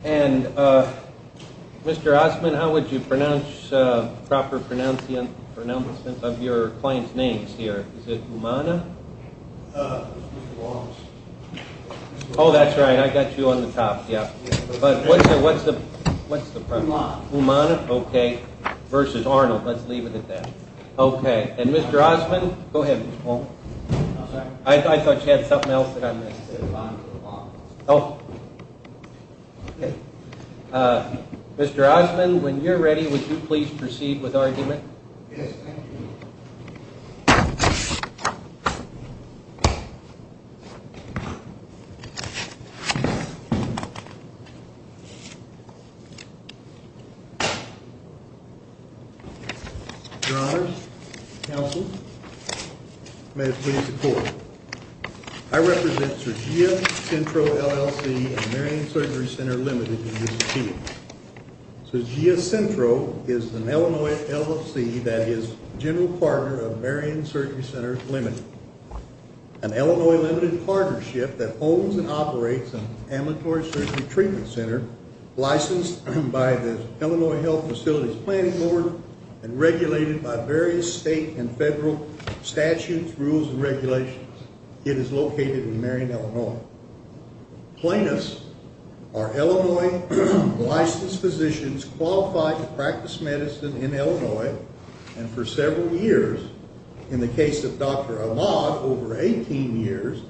And, uh, Mr. Osman, how would you pronounce, uh, proper pronunciation of your client's names here? Is it Umana? Uh, it's Mr. Walms. Oh, that's right, I got you on the top, yeah. But what's the, what's the, what's the problem? Umana. Umana, okay. Versus Arnold, let's leave it at that. Okay, and Mr. Osman, go ahead, Mr. Walms. I'm sorry? I thought you had something else that I missed. Oh. Okay. Uh, Mr. Osman, when you're ready, would you please proceed with argument? Yes, thank you. Your Honor, counsel, may it please the court. I represent Surgia Centro, LLC and Marion Surgery Center Limited in this case. Surgia Centro is an Illinois LLC that is general partner of Marion Surgery Center Limited, an Illinois limited partnership that owns and operates an ambulatory surgery treatment center licensed by the Illinois Health Facilities Planning Board and regulated by various state and federal statutes, rules, and regulations. It is located in Marion, Illinois. Plaintiffs are Illinois licensed physicians qualified to practice medicine in Illinois and for several years, in the case of Dr. Ahmad, over 18 years,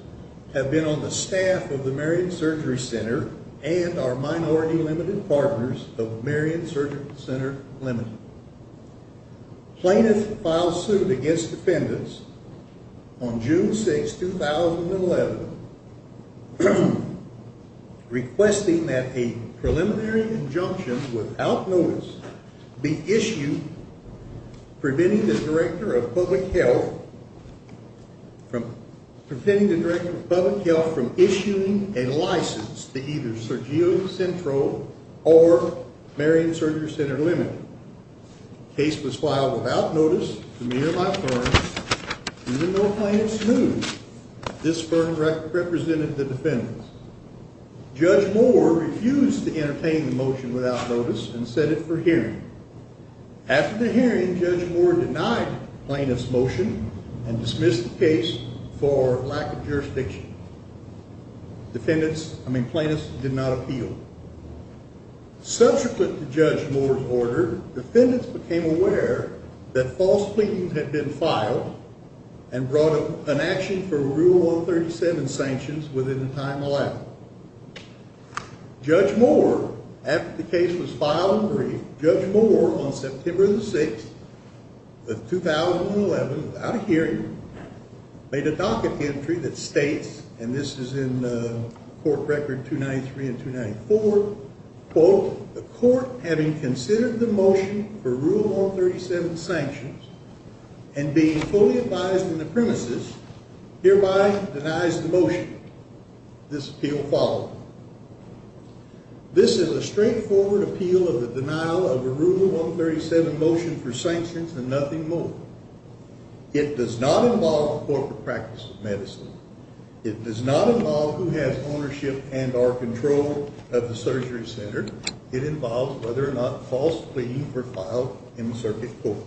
have been on the staff of the Marion Surgery Center and are minority limited partners of Marion Surgery Center Limited. Plaintiffs filed suit against defendants on June 6, 2011, requesting that a preliminary injunction without notice be issued preventing the Director of Public Health from issuing a license to either Surgia Centro or Marion Surgery Center Limited. The case was filed without notice to me or my firm, even though plaintiffs knew this firm represented the defendants. Judge Moore refused to entertain the motion without notice and said it for hearing. After the hearing, Judge Moore denied the plaintiff's motion and dismissed the case for lack of jurisdiction. Plaintiffs did not appeal. Subsequent to Judge Moore's order, defendants became aware that false pleadings had been filed and brought an action for Rule 137 sanctions within the time allowed. Judge Moore, after the case was filed and briefed, Judge Moore on September 6, 2011, without a hearing, made a docket entry that states, and this is in court record 293 and 294, quote, the court having considered the motion for Rule 137 sanctions and being fully advised in the premises, hereby denies the motion. This appeal followed. This is a straightforward appeal of the denial of a Rule 137 motion for sanctions and nothing more. It does not involve corporate practice of medicine. It does not involve who has ownership and or control of the surgery center. It involves whether or not false pleadings were filed in the circuit court.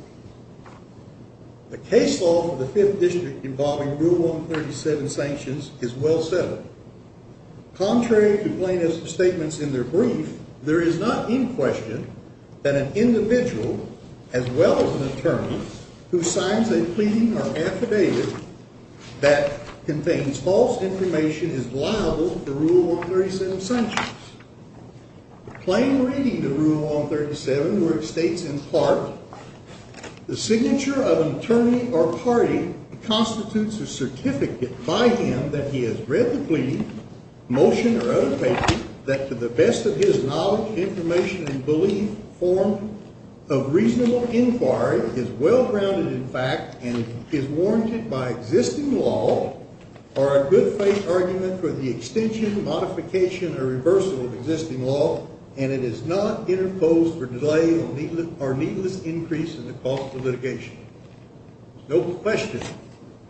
The case law for the Fifth District involving Rule 137 sanctions is well settled. Contrary to plaintiff's statements in their brief, there is not in question that an individual, as well as an attorney, who signs a pleading or affidavit that contains false information is liable to Rule 137 sanctions. Plain reading the Rule 137, where it states in part, the signature of an attorney or party constitutes a certificate by him that he has read the pleading, motion, or other paper that, to the best of his knowledge, information, and belief, form of reasonable inquiry, is well grounded in fact, and is warranted by existing law, are a good-faith argument for the extension, modification, or reversal of existing law, and it is not interposed for delay or needless increase in the cost of litigation. There is no question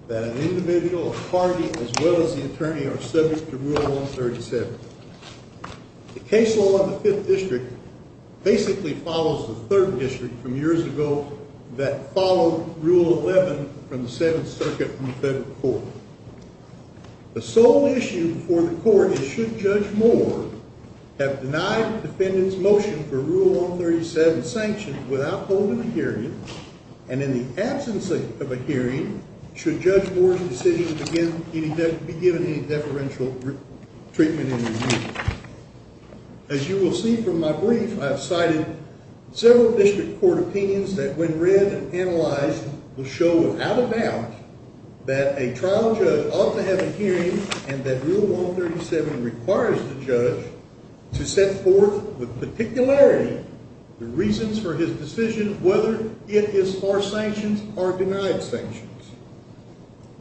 that an individual, a party, as well as the attorney, are subject to Rule 137. The case law in the Fifth District basically follows the Third District from years ago that followed Rule 11 from the Seventh Circuit in the federal court. The sole issue before the court is should Judge Moore have denied the defendant's motion for Rule 137 sanctions without holding a hearing, and in the absence of a hearing, should Judge Moore's decision be given any deferential treatment in his view. As you will see from my brief, I have cited several district court opinions that, when read and analyzed, will show without a doubt that a trial judge ought to have a hearing and that Rule 137 requires the judge to set forth with particularity the reasons for his decision, whether it is far sanctions or denied sanctions.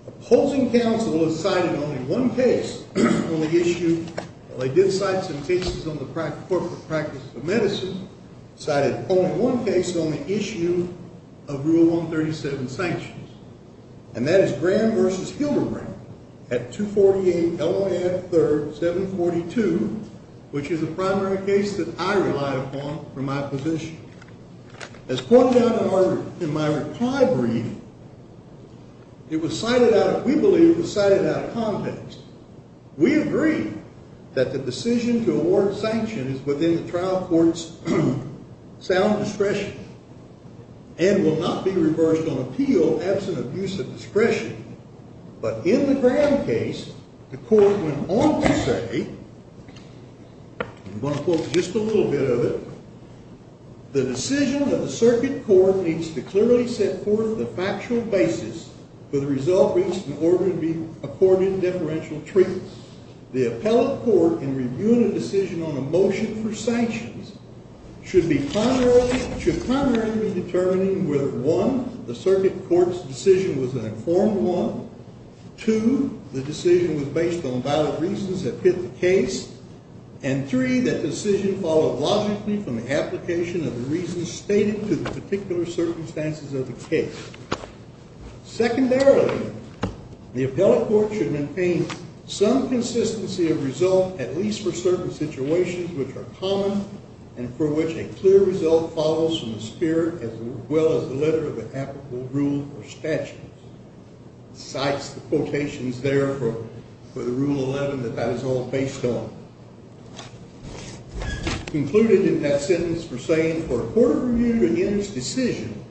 Opposing counsel has cited only one case on the issue, well, they did cite some cases on the corporate practices of medicine, cited only one case on the issue of Rule 137 sanctions, and that is Graham v. Hildebrand at 248 LAF 3rd, 742, which is a primary case that I relied upon for my position. As pointed out in my reply brief, it was cited out, we believe it was cited out of context. We agree that the decision to award sanctions is within the trial court's sound discretion and will not be reversed on appeal absent of use of discretion, but in the Graham case, the court went on to say, I'm going to quote just a little bit of it. The decision of the circuit court needs to clearly set forth the factual basis for the result reached in order to be accorded deferential treatment. The appellate court, in reviewing a decision on a motion for sanctions, should primarily be determining whether, one, the circuit court's decision was an informed one, two, the decision was based on valid reasons that fit the case, and three, that decision followed logically from the application of the reasons stated to the particular circumstances of the case. Secondarily, the appellate court should maintain some consistency of result, at least for certain situations which are common and for which a clear result follows from the spirit as well as the letter of the applicable rule or statute. Cites the quotations there for the Rule 11 that that is all based on. Concluded in that sentence, we're saying, for a court review to end its decision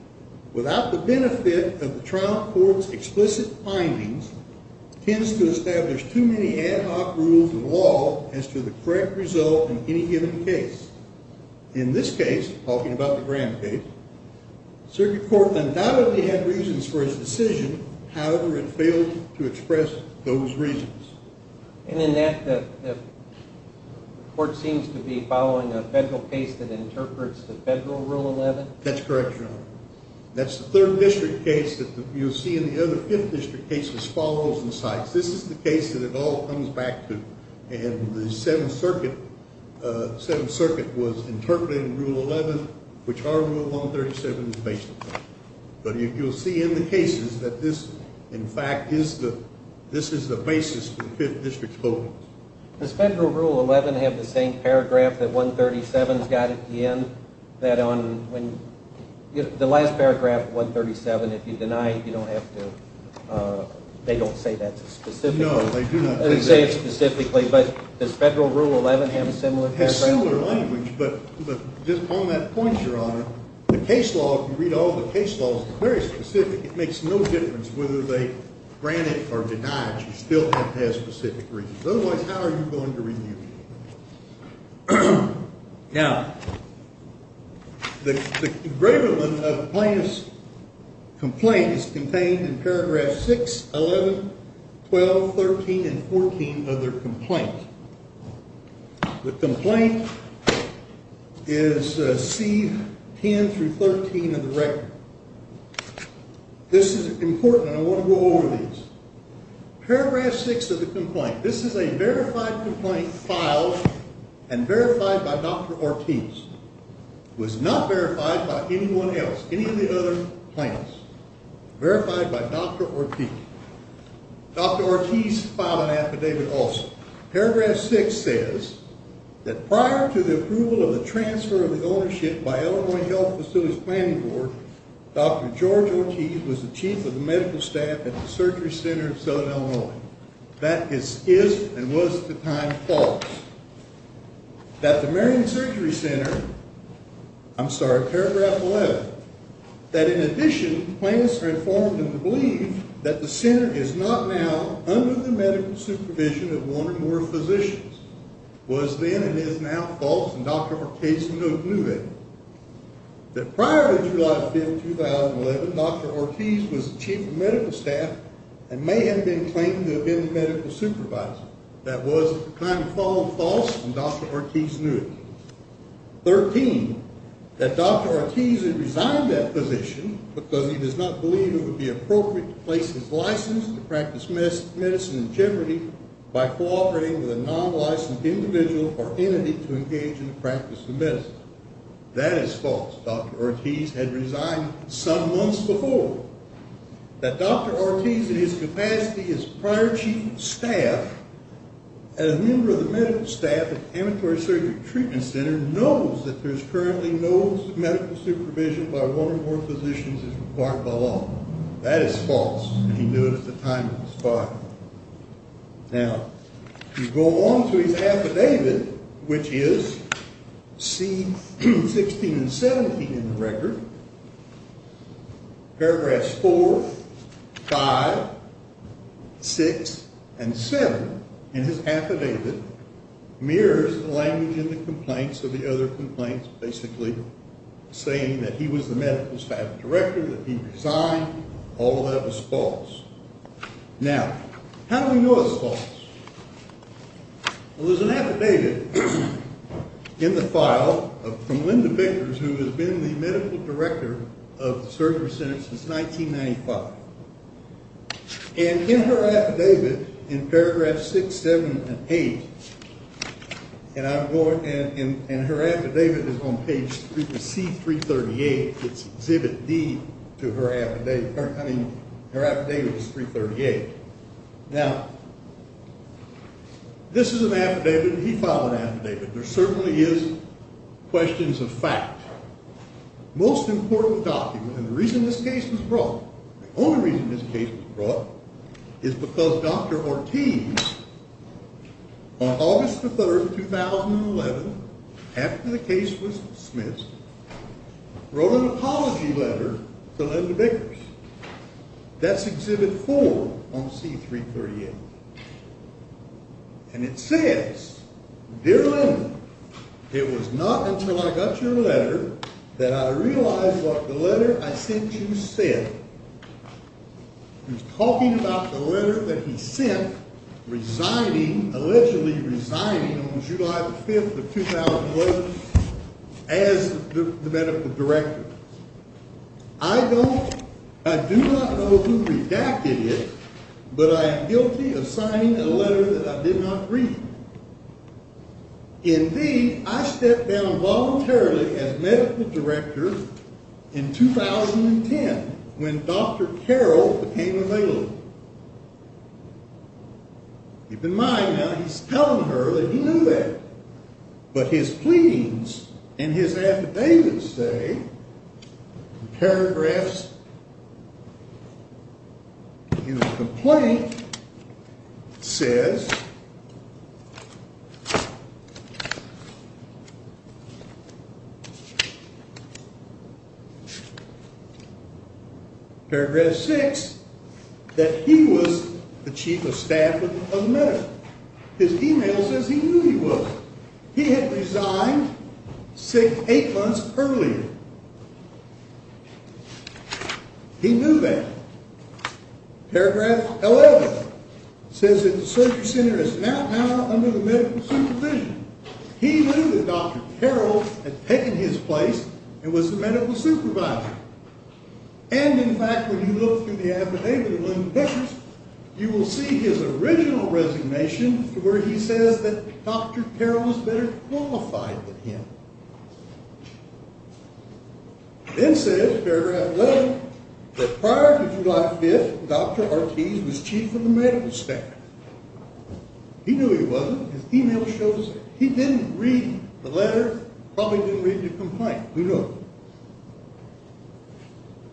without the benefit of the trial court's explicit findings tends to establish too many ad hoc rules of law as to the correct result in any given case. In this case, talking about the Graham case, the circuit court undoubtedly had reasons for its decision. However, it failed to express those reasons. And in that, the court seems to be following a federal case that interprets the federal Rule 11? That's correct, Your Honor. That's the third district case that you'll see in the other fifth district cases follows and cites. This is the case that it all comes back to. And the Seventh Circuit was interpreting Rule 11, which our Rule 137 is based on. But you'll see in the cases that this, in fact, is the basis for the fifth district's voting. Does federal Rule 11 have the same paragraph that 137's got at the end? That on the last paragraph of 137, if you deny it, you don't have to. They don't say that specifically. No, they do not. They don't say it specifically. But does federal Rule 11 have a similar paragraph? It has similar language. But just on that point, Your Honor, the case law, if you read all the case laws, is very specific. It makes no difference whether they grant it or deny it. You still have to have specific reasons. Otherwise, how are you going to review it? Now, the engravement of plaintiff's complaint is contained in paragraph 6, 11, 12, 13, and 14 of their complaint. The complaint is C10 through 13 of the record. This is important, and I want to go over these. Paragraph 6 of the complaint. This is a verified complaint filed and verified by Dr. Ortiz. It was not verified by anyone else, any of the other plaintiffs. Verified by Dr. Ortiz. Dr. Ortiz filed an affidavit also. Paragraph 6 says that prior to the approval of the transfer of the ownership by Illinois Health Facilities Planning Board, Dr. George Ortiz was the chief of the medical staff at the Surgery Center of Southern Illinois. That is, is, and was at the time, false. That the Marion Surgery Center, I'm sorry, paragraph 11, that in addition, that the center is not now under the medical supervision of one or more physicians, was then and is now false, and Dr. Ortiz knew it. That prior to July 5, 2011, Dr. Ortiz was the chief of medical staff and may have been claiming to have been the medical supervisor. That was kind of false, and Dr. Ortiz knew it. Thirteen, that Dr. Ortiz had resigned that position because he does not believe it would be appropriate to place his license to practice medicine in jeopardy by cooperating with a non-licensed individual or entity to engage in the practice of medicine. That is false. Dr. Ortiz had resigned some months before. That Dr. Ortiz, in his capacity as prior chief of staff, and a member of the medical staff at the Ambulatory Surgery Treatment Center, knows that there is currently no medical supervision by one or more physicians as required by law. That is false, and he knew it at the time of his firing. Now, you go on to his affidavit, which is, C16 and 17 in the record, paragraphs 4, 5, 6, and 7 in his affidavit, mirrors the language in the complaints of the other complaints, basically saying that he was the medical staff director, that he resigned. All of that was false. Well, there's an affidavit in the file from Linda Bakers, who has been the medical director of the Surgery Center since 1995. And in her affidavit, in paragraphs 6, 7, and 8, and her affidavit is on page C338, it's exhibit D to her affidavit, I mean, her affidavit is 338. Now, this is an affidavit, and he filed an affidavit. There certainly is questions of fact. Most important document, and the reason this case was brought, the only reason this case was brought, is because Dr. Ortiz, on August the 3rd, 2011, after the case was dismissed, wrote an apology letter to Linda Bakers. That's exhibit 4 on C338. And it says, Dear Linda, It was not until I got your letter that I realized what the letter I sent you said. He's talking about the letter that he sent, allegedly resigning on July the 5th of 2011 as the medical director. I do not know who redacted it, but I am guilty of signing a letter that I did not read. Indeed, I stepped down voluntarily as medical director in 2010, when Dr. Carroll became available. Keep in mind, now, he's telling her that he knew that. But his pleadings in his affidavit say, in paragraphs, in the complaint, it says, paragraph 6, that he was the chief of staff of the medical. His email says he knew he was. He had resigned eight months earlier. He knew that. Paragraph 11 says, He knew that Dr. Carroll had taken his place and was the medical supervisor. And, in fact, when you look through the affidavit of Linda Bakers, you will see his original resignation, where he says that Dr. Carroll was better qualified than him. It says, paragraph 11, that prior to July 5th, Dr. Ortiz was chief of the medical staff. He knew he wasn't. His email shows that. He didn't read the letter. Probably didn't read the complaint. Who knows?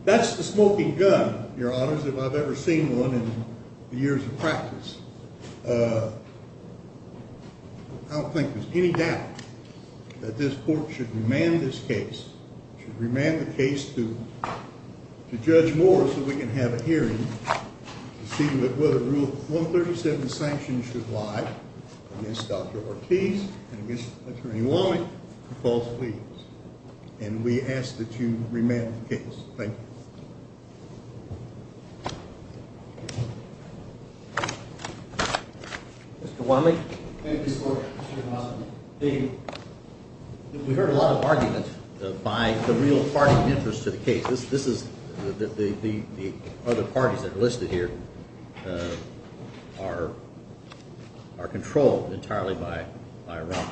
That's the smoking gun, Your Honors, if I've ever seen one in years of practice. I don't think there's any doubt that this Court should remand this case, should remand the case to Judge Moore so we can have a hearing to see whether Rule 137 of the Sanctions should lie against Dr. Ortiz and against Attorney Womack, the false plea. And we ask that you remand the case. Thank you. Thank you. Mr. Wanley? Thank you, Your Honor. We heard a lot of argument by the real party interest to the case. This is the other parties that are listed here are controlled entirely by Ron.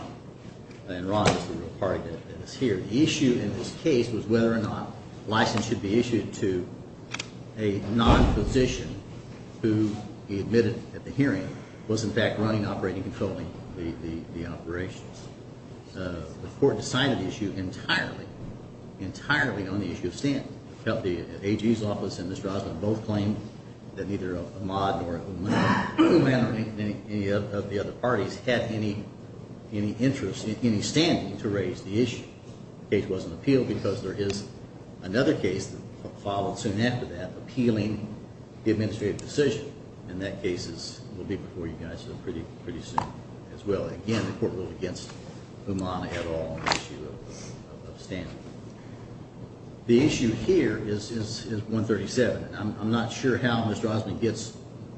And Ron is the real party that is here. The issue in this case was whether or not a license should be issued to a non-physician who he admitted at the hearing was, in fact, running, operating, controlling the operations. The Court decided the issue entirely, entirely on the issue of standing. The AG's office and Ms. Drossman both claimed that neither Ahmad nor Womack or any of the other parties had any interest, any standing to raise the issue. The case wasn't appealed because there is another case that followed soon after that appealing the administrative decision. And that case will be before you guys pretty soon as well. Again, the Court ruled against Ahmad et al. on the issue of standing. The issue here is 137. I'm not sure how Ms. Drossman gets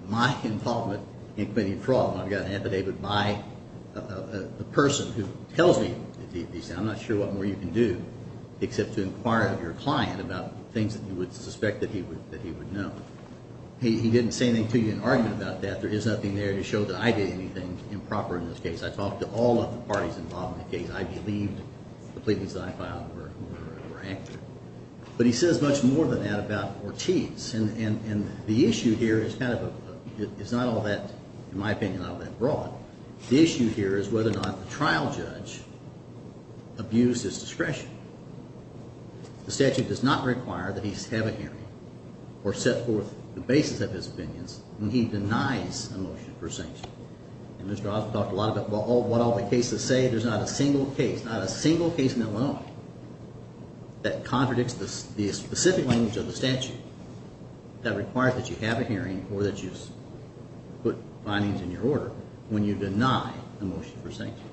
my involvement in committing fraud. I've got an affidavit by a person who tells me He said, I'm not sure what more you can do except to inquire of your client about things that you would suspect that he would know. He didn't say anything to me in argument about that. There is nothing there to show that I did anything improper in this case. I talked to all of the parties involved in the case. I believed the pleadings that I filed were accurate. But he says much more than that about Ortiz. And the issue here is kind of a it's not all that, in my opinion, all that broad. The issue here is whether or not the trial judge abused his discretion. The statute does not require that he have a hearing or set forth the basis of his opinions when he denies a motion for sanction. And Ms. Drossman talked a lot about what all the cases say. There's not a single case, not a single case in Illinois that contradicts the specific language of the statute that requires that you have a hearing or that you put findings in your order when you deny a motion for sanction.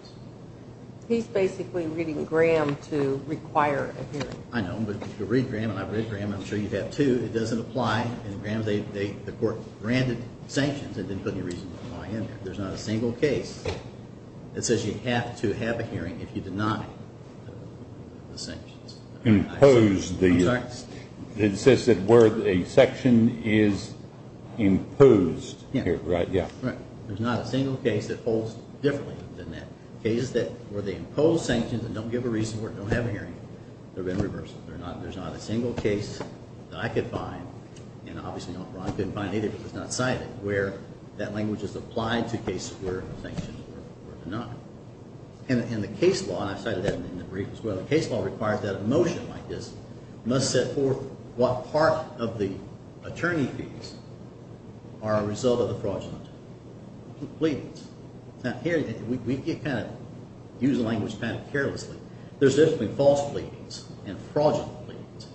He's basically reading Graham to require a hearing. I know, but if you read Graham, and I've read Graham, and I'm sure you have too, it doesn't apply. In Graham, the court granted sanctions and didn't put any reason to deny in there. There's not a single case that says you have to have a hearing if you deny the sanctions. Impose the... I'm sorry? It says that where a section is imposed. Yeah. Right, yeah. There's not a single case that holds differently than that. Cases where they impose sanctions and don't give a reason for it, don't have a hearing, they're being reversed. There's not a single case that I could find, and obviously Ron couldn't find either because it's not cited, where that language is applied to cases where sanctions were denied. And the case law, and I cited that in the brief as well, the case law requires that a motion like this must set forth what part of the attorney fees are a result of the fraudulent pleadings. Now, here, we kind of use the language kind of carelessly. There's definitely false pleadings and fraudulent pleadings.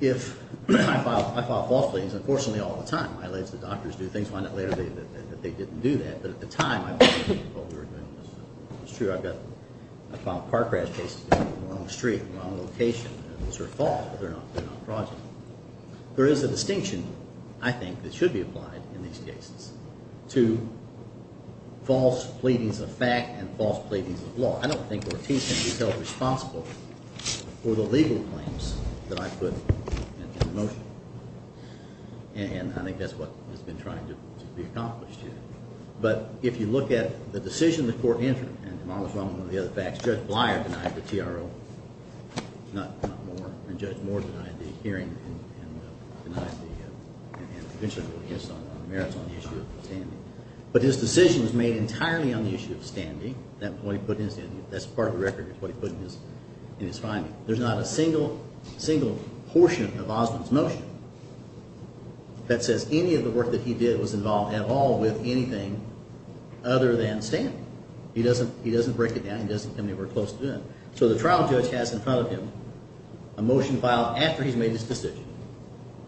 If I file false pleadings, unfortunately, all the time, I let the doctors do things, find out later that they didn't do that, but at the time, I filed fraudulent pleadings. It's true, I filed car crash cases on the wrong street, wrong location, and those are false, but they're not fraudulent. There is a distinction, I think, that should be applied in these cases to false pleadings of fact and false pleadings of law. I don't think Ortiz can be held responsible for the legal claims that I put in the motion, and I think that's what has been trying to be accomplished here. But if you look at the decision the court entered, and if I was wrong on one of the other facts, Judge Blier denied the TRO, not Moore, and Judge Moore denied the hearing and eventually voted against it on the merits on the issue of standing. But his decision was made entirely on the issue of standing. That's part of the record, what he put in his finding. There's not a single portion of Osmond's motion that says any of the work that he did was involved at all with anything other than standing. He doesn't break it down. He doesn't tell me we're close to it. So the trial judge has in front of him a motion filed after he's made this decision,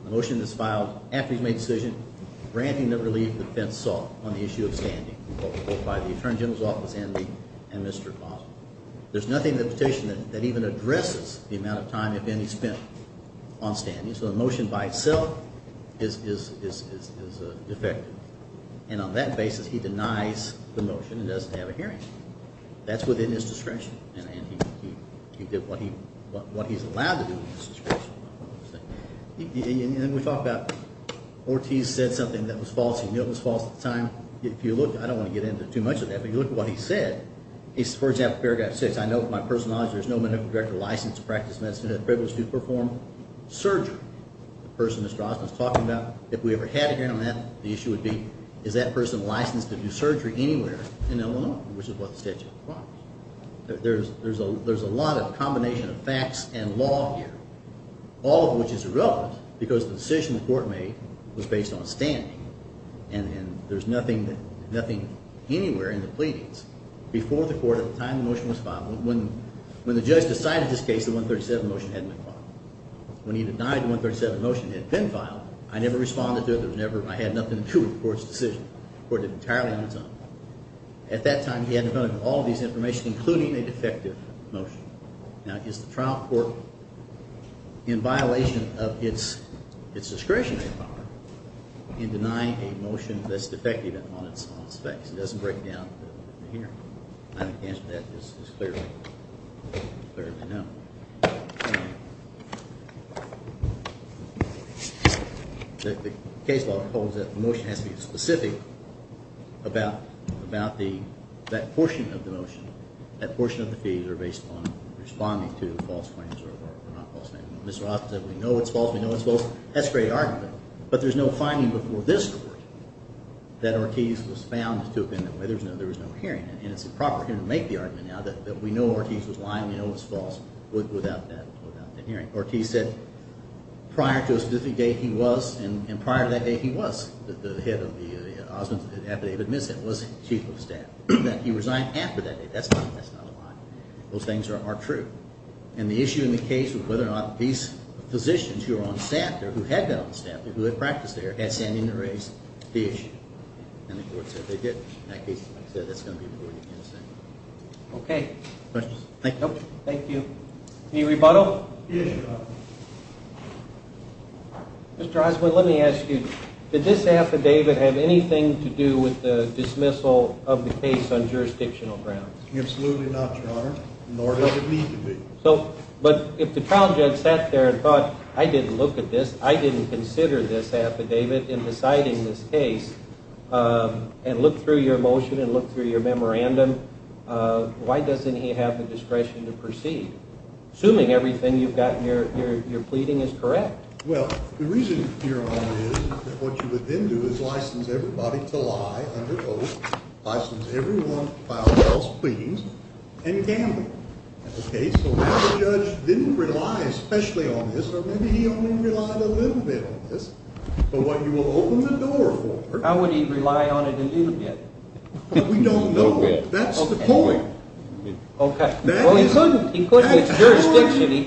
a motion that's filed after he's made the decision granting the relief the defense sought on the issue of standing by the attorney general's office and Mr. Osmond. There's nothing in the petition that even addresses the amount of time, if any, spent on standing, so the motion by itself is defective. And on that basis, he denies the motion and doesn't have a hearing. That's within his discretion. And he did what he's allowed to do in his discretion. And we talked about Ortiz said something that was false. He knew it was false at the time. If you look, I don't want to get into too much of that, but if you look at what he said, for example, paragraph 6, I know with my personal knowledge there's no medical director licensed to practice medicine with the privilege to perform surgery. The person that Mr. Osmond is talking about, if we ever had a hearing on that, the issue would be is that person licensed to do surgery anywhere in Illinois? Which is what the statute requires. There's a lot of combination of facts and law here, all of which is irrelevant because the decision the court made was based on standing. And there's nothing anywhere in the pleadings. Before the court, at the time the motion was filed, when the judge decided this case, the 137 motion had been filed. When he denied the 137 motion, it had been filed. I never responded to it. I had nothing to do with the court's decision. The court did entirely on its own. At that time, he had to go to all of this information, including a defective motion. Now, is the trial court in violation of its discretionary power in denying a motion that's defective on its facts? It doesn't break down the hearing. The answer to that is clearly no. The case law holds that the motion has to be specific about that portion of the motion, that portion of the fees are based on responding to false claims or not false claims. Mr. Roth said, we know it's false, we know it's false. That's a great argument. But there's no finding before this court that Ortiz was found to have been that way. There was no hearing. And it's improper here to make the argument now that we know Ortiz was lying, we know it's false, without that hearing. Ortiz said prior to a specific date he was, and prior to that date he was, the head of the Osment Affidavit, was chief of staff, that he resigned after that date. That's not a lie. Those things are true. And the issue in the case of whether or not these physicians who are on staff there, who had been on staff there, who had practiced there, had sent in the race, the issue. And the court said they didn't. In that case, like I said, that's going to be before you can say. Okay. Questions? Nope. Thank you. Any rebuttal? Yes, Your Honor. Mr. Osment, let me ask you, did this affidavit have anything to do with the dismissal of the case on jurisdictional grounds? Absolutely not, Your Honor, nor does it need to be. But if the trial judge sat there and thought, I didn't look at this, I didn't consider this affidavit in deciding this case, and looked through your motion and looked through your memorandum, why doesn't he have the discretion to proceed? Assuming everything you've got in your pleading is correct. Well, the reason, Your Honor, is that what you would then do is license everybody to lie under oath, license everyone to file false pleadings, and gamble. Okay? So now the judge didn't rely especially on this, or maybe he only relied a little bit on this, but what you will open the door for. How would he rely on it a little bit? We don't know. That's the point. Okay. Well, he couldn't. He couldn't. It's jurisdiction. He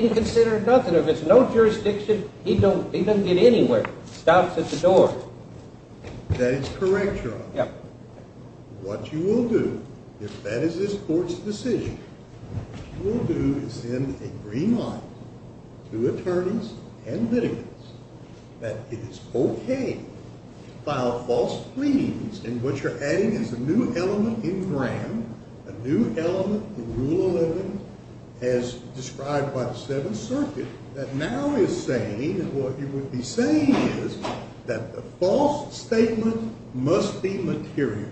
didn't consider it nothing. If it's no jurisdiction, he doesn't get anywhere. Stouts at the door. That is correct, Your Honor. Yep. What you will do, if that is this court's decision, what you will do is send a green light to attorneys and litigants that it is okay to file false pleadings and what you're adding is a new element in Graham, a new element in Rule 11 as described by the Seventh Circuit, that now is saying and what you would be saying is that the false statement must be material.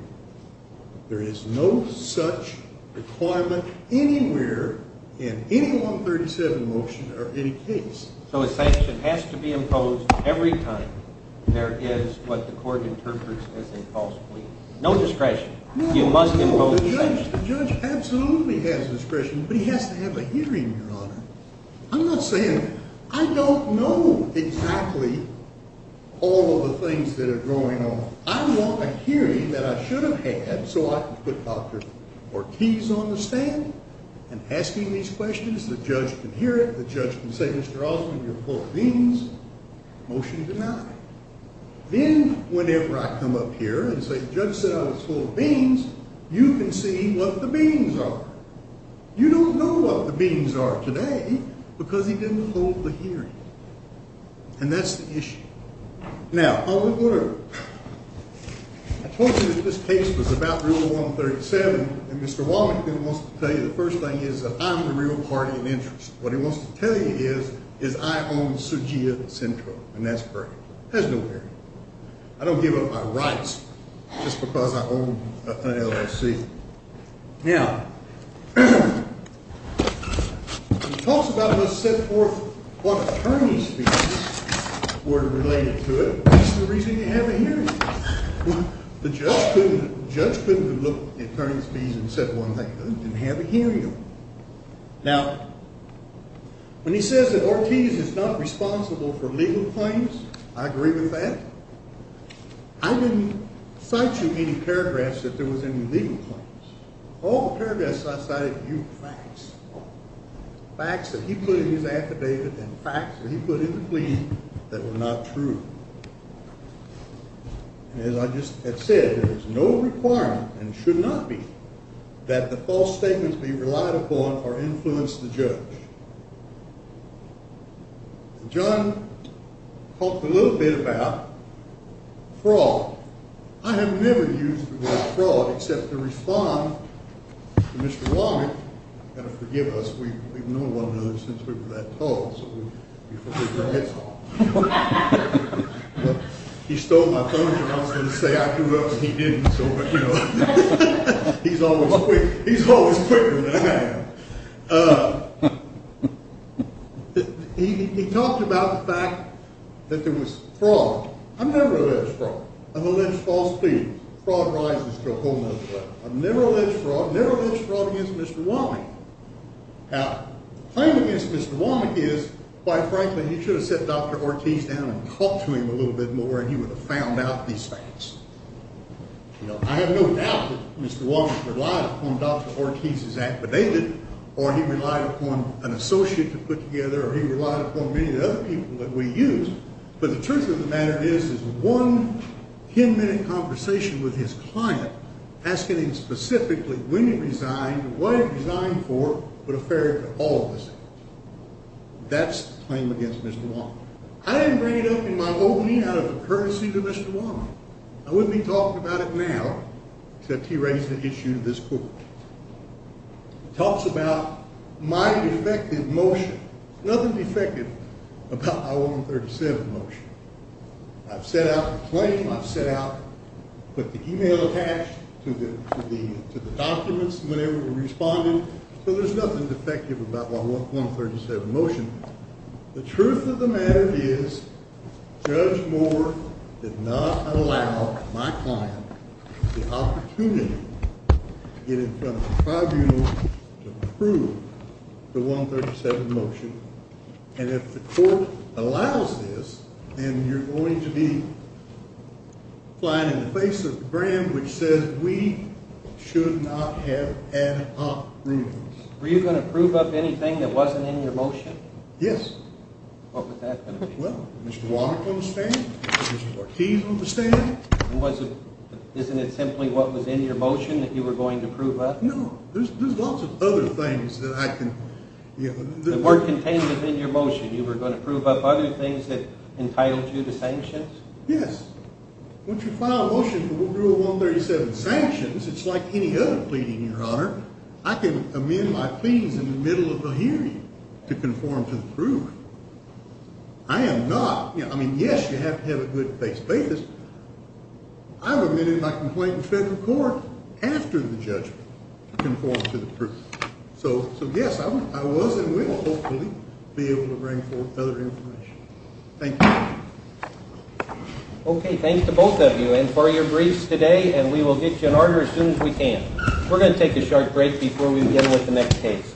There is no such requirement anywhere in any 137 motion or any case. So a sanction has to be imposed every time there is what the court interprets as a false plea. No discretion. No. You must impose a sanction. The judge absolutely has discretion, but he has to have a hearing, Your Honor. I'm not saying I don't know exactly all of the things that are going on. I want a hearing that I should have had so I can put Dr. Ortiz on the stand and asking these questions. The judge can hear it. The judge can say, Mr. Osmond, you're full of beans. Motion denied. Then whenever I come up here and say the judge said I was full of beans, you can see what the beans are. You don't know what the beans are today because he didn't hold the hearing, and that's the issue. Now, on the court, I told you that this case was about Rule 137, and Mr. Wallington wants to tell you the first thing is that I'm the real party in interest. What he wants to tell you is I own Sujia Central, and that's great. It has no bearing. I don't give up my rights just because I own an LLC. Now, he talks about it as set forth what attorney's fees were related to it. That's the reason you have a hearing. The judge couldn't have looked at attorney's fees and said one thing. I didn't have a hearing on it. Now, when he says that Ortiz is not responsible for legal claims, I agree with that. I didn't cite you any paragraphs that there was any legal claims. All the paragraphs I cited were facts, facts that he put in his affidavit and facts that he put in the plea that were not true. And as I just had said, there is no requirement, and should not be, that the false statements be relied upon or influence the judge. John talked a little bit about fraud. I have never used the word fraud except to respond to Mr. Wallington, and forgive us. We've known one another since we were that tall, so we forgive your heads off. He stole my phone, and I was going to say I threw it up, and he didn't. He's always quick. He's always quicker than I am. He talked about the fact that there was fraud. I've never alleged fraud. I've alleged false pleadings. Fraud rises to a whole other level. I've never alleged fraud. I've never alleged fraud against Mr. Wallington. Now, the claim against Mr. Wallington is, quite frankly, he should have sat Dr. Ortiz down and talked to him a little bit more, and he would have found out these facts. I have no doubt that Mr. Wallington relied upon Dr. Ortiz's affidavit, or he relied upon an associate to put together, or he relied upon many of the other people that we used. But the truth of the matter is, this is one ten-minute conversation with his client, asking him specifically when he resigned, what he resigned for, for the fairer for all of us. That's the claim against Mr. Wallington. I didn't bring it up in my opening out of courtesy to Mr. Wallington. I wouldn't be talking about it now, except he raised an issue to this court. It talks about my defective motion. There's nothing defective about my 137 motion. I've set out the claim. I've set out, put the e-mail attached to the documents whenever we responded. So there's nothing defective about my 137 motion. The truth of the matter is, Judge Moore did not allow my client the opportunity to get in front of the tribunal to approve the 137 motion. And if the court allows this, then you're going to be flying in the face of the brand which says we should not have ad hoc rulings. Were you going to prove up anything that wasn't in your motion? Yes. What was that going to be? Well, Mr. Wallington will stand. Mr. Ortiz will stand. Isn't it simply what was in your motion that you were going to prove up? No. There's lots of other things that I can... The word contained within your motion, you were going to prove up other things that entitled you to sanctions? Yes. Once you file a motion for Rule 137 sanctions, it's like any other pleading, Your Honor. I can amend my pleadings in the middle of a hearing to conform to the proof. I am not. I mean, yes, you have to have a good base basis. I've amended my complaint in federal court after the judgment to conform to the proof. So, yes, I was and will hopefully be able to bring forth other information. Thank you. Okay. Thanks to both of you and for your briefs today, and we will get you in order as soon as we can. We're going to take a short break before we begin with the next case.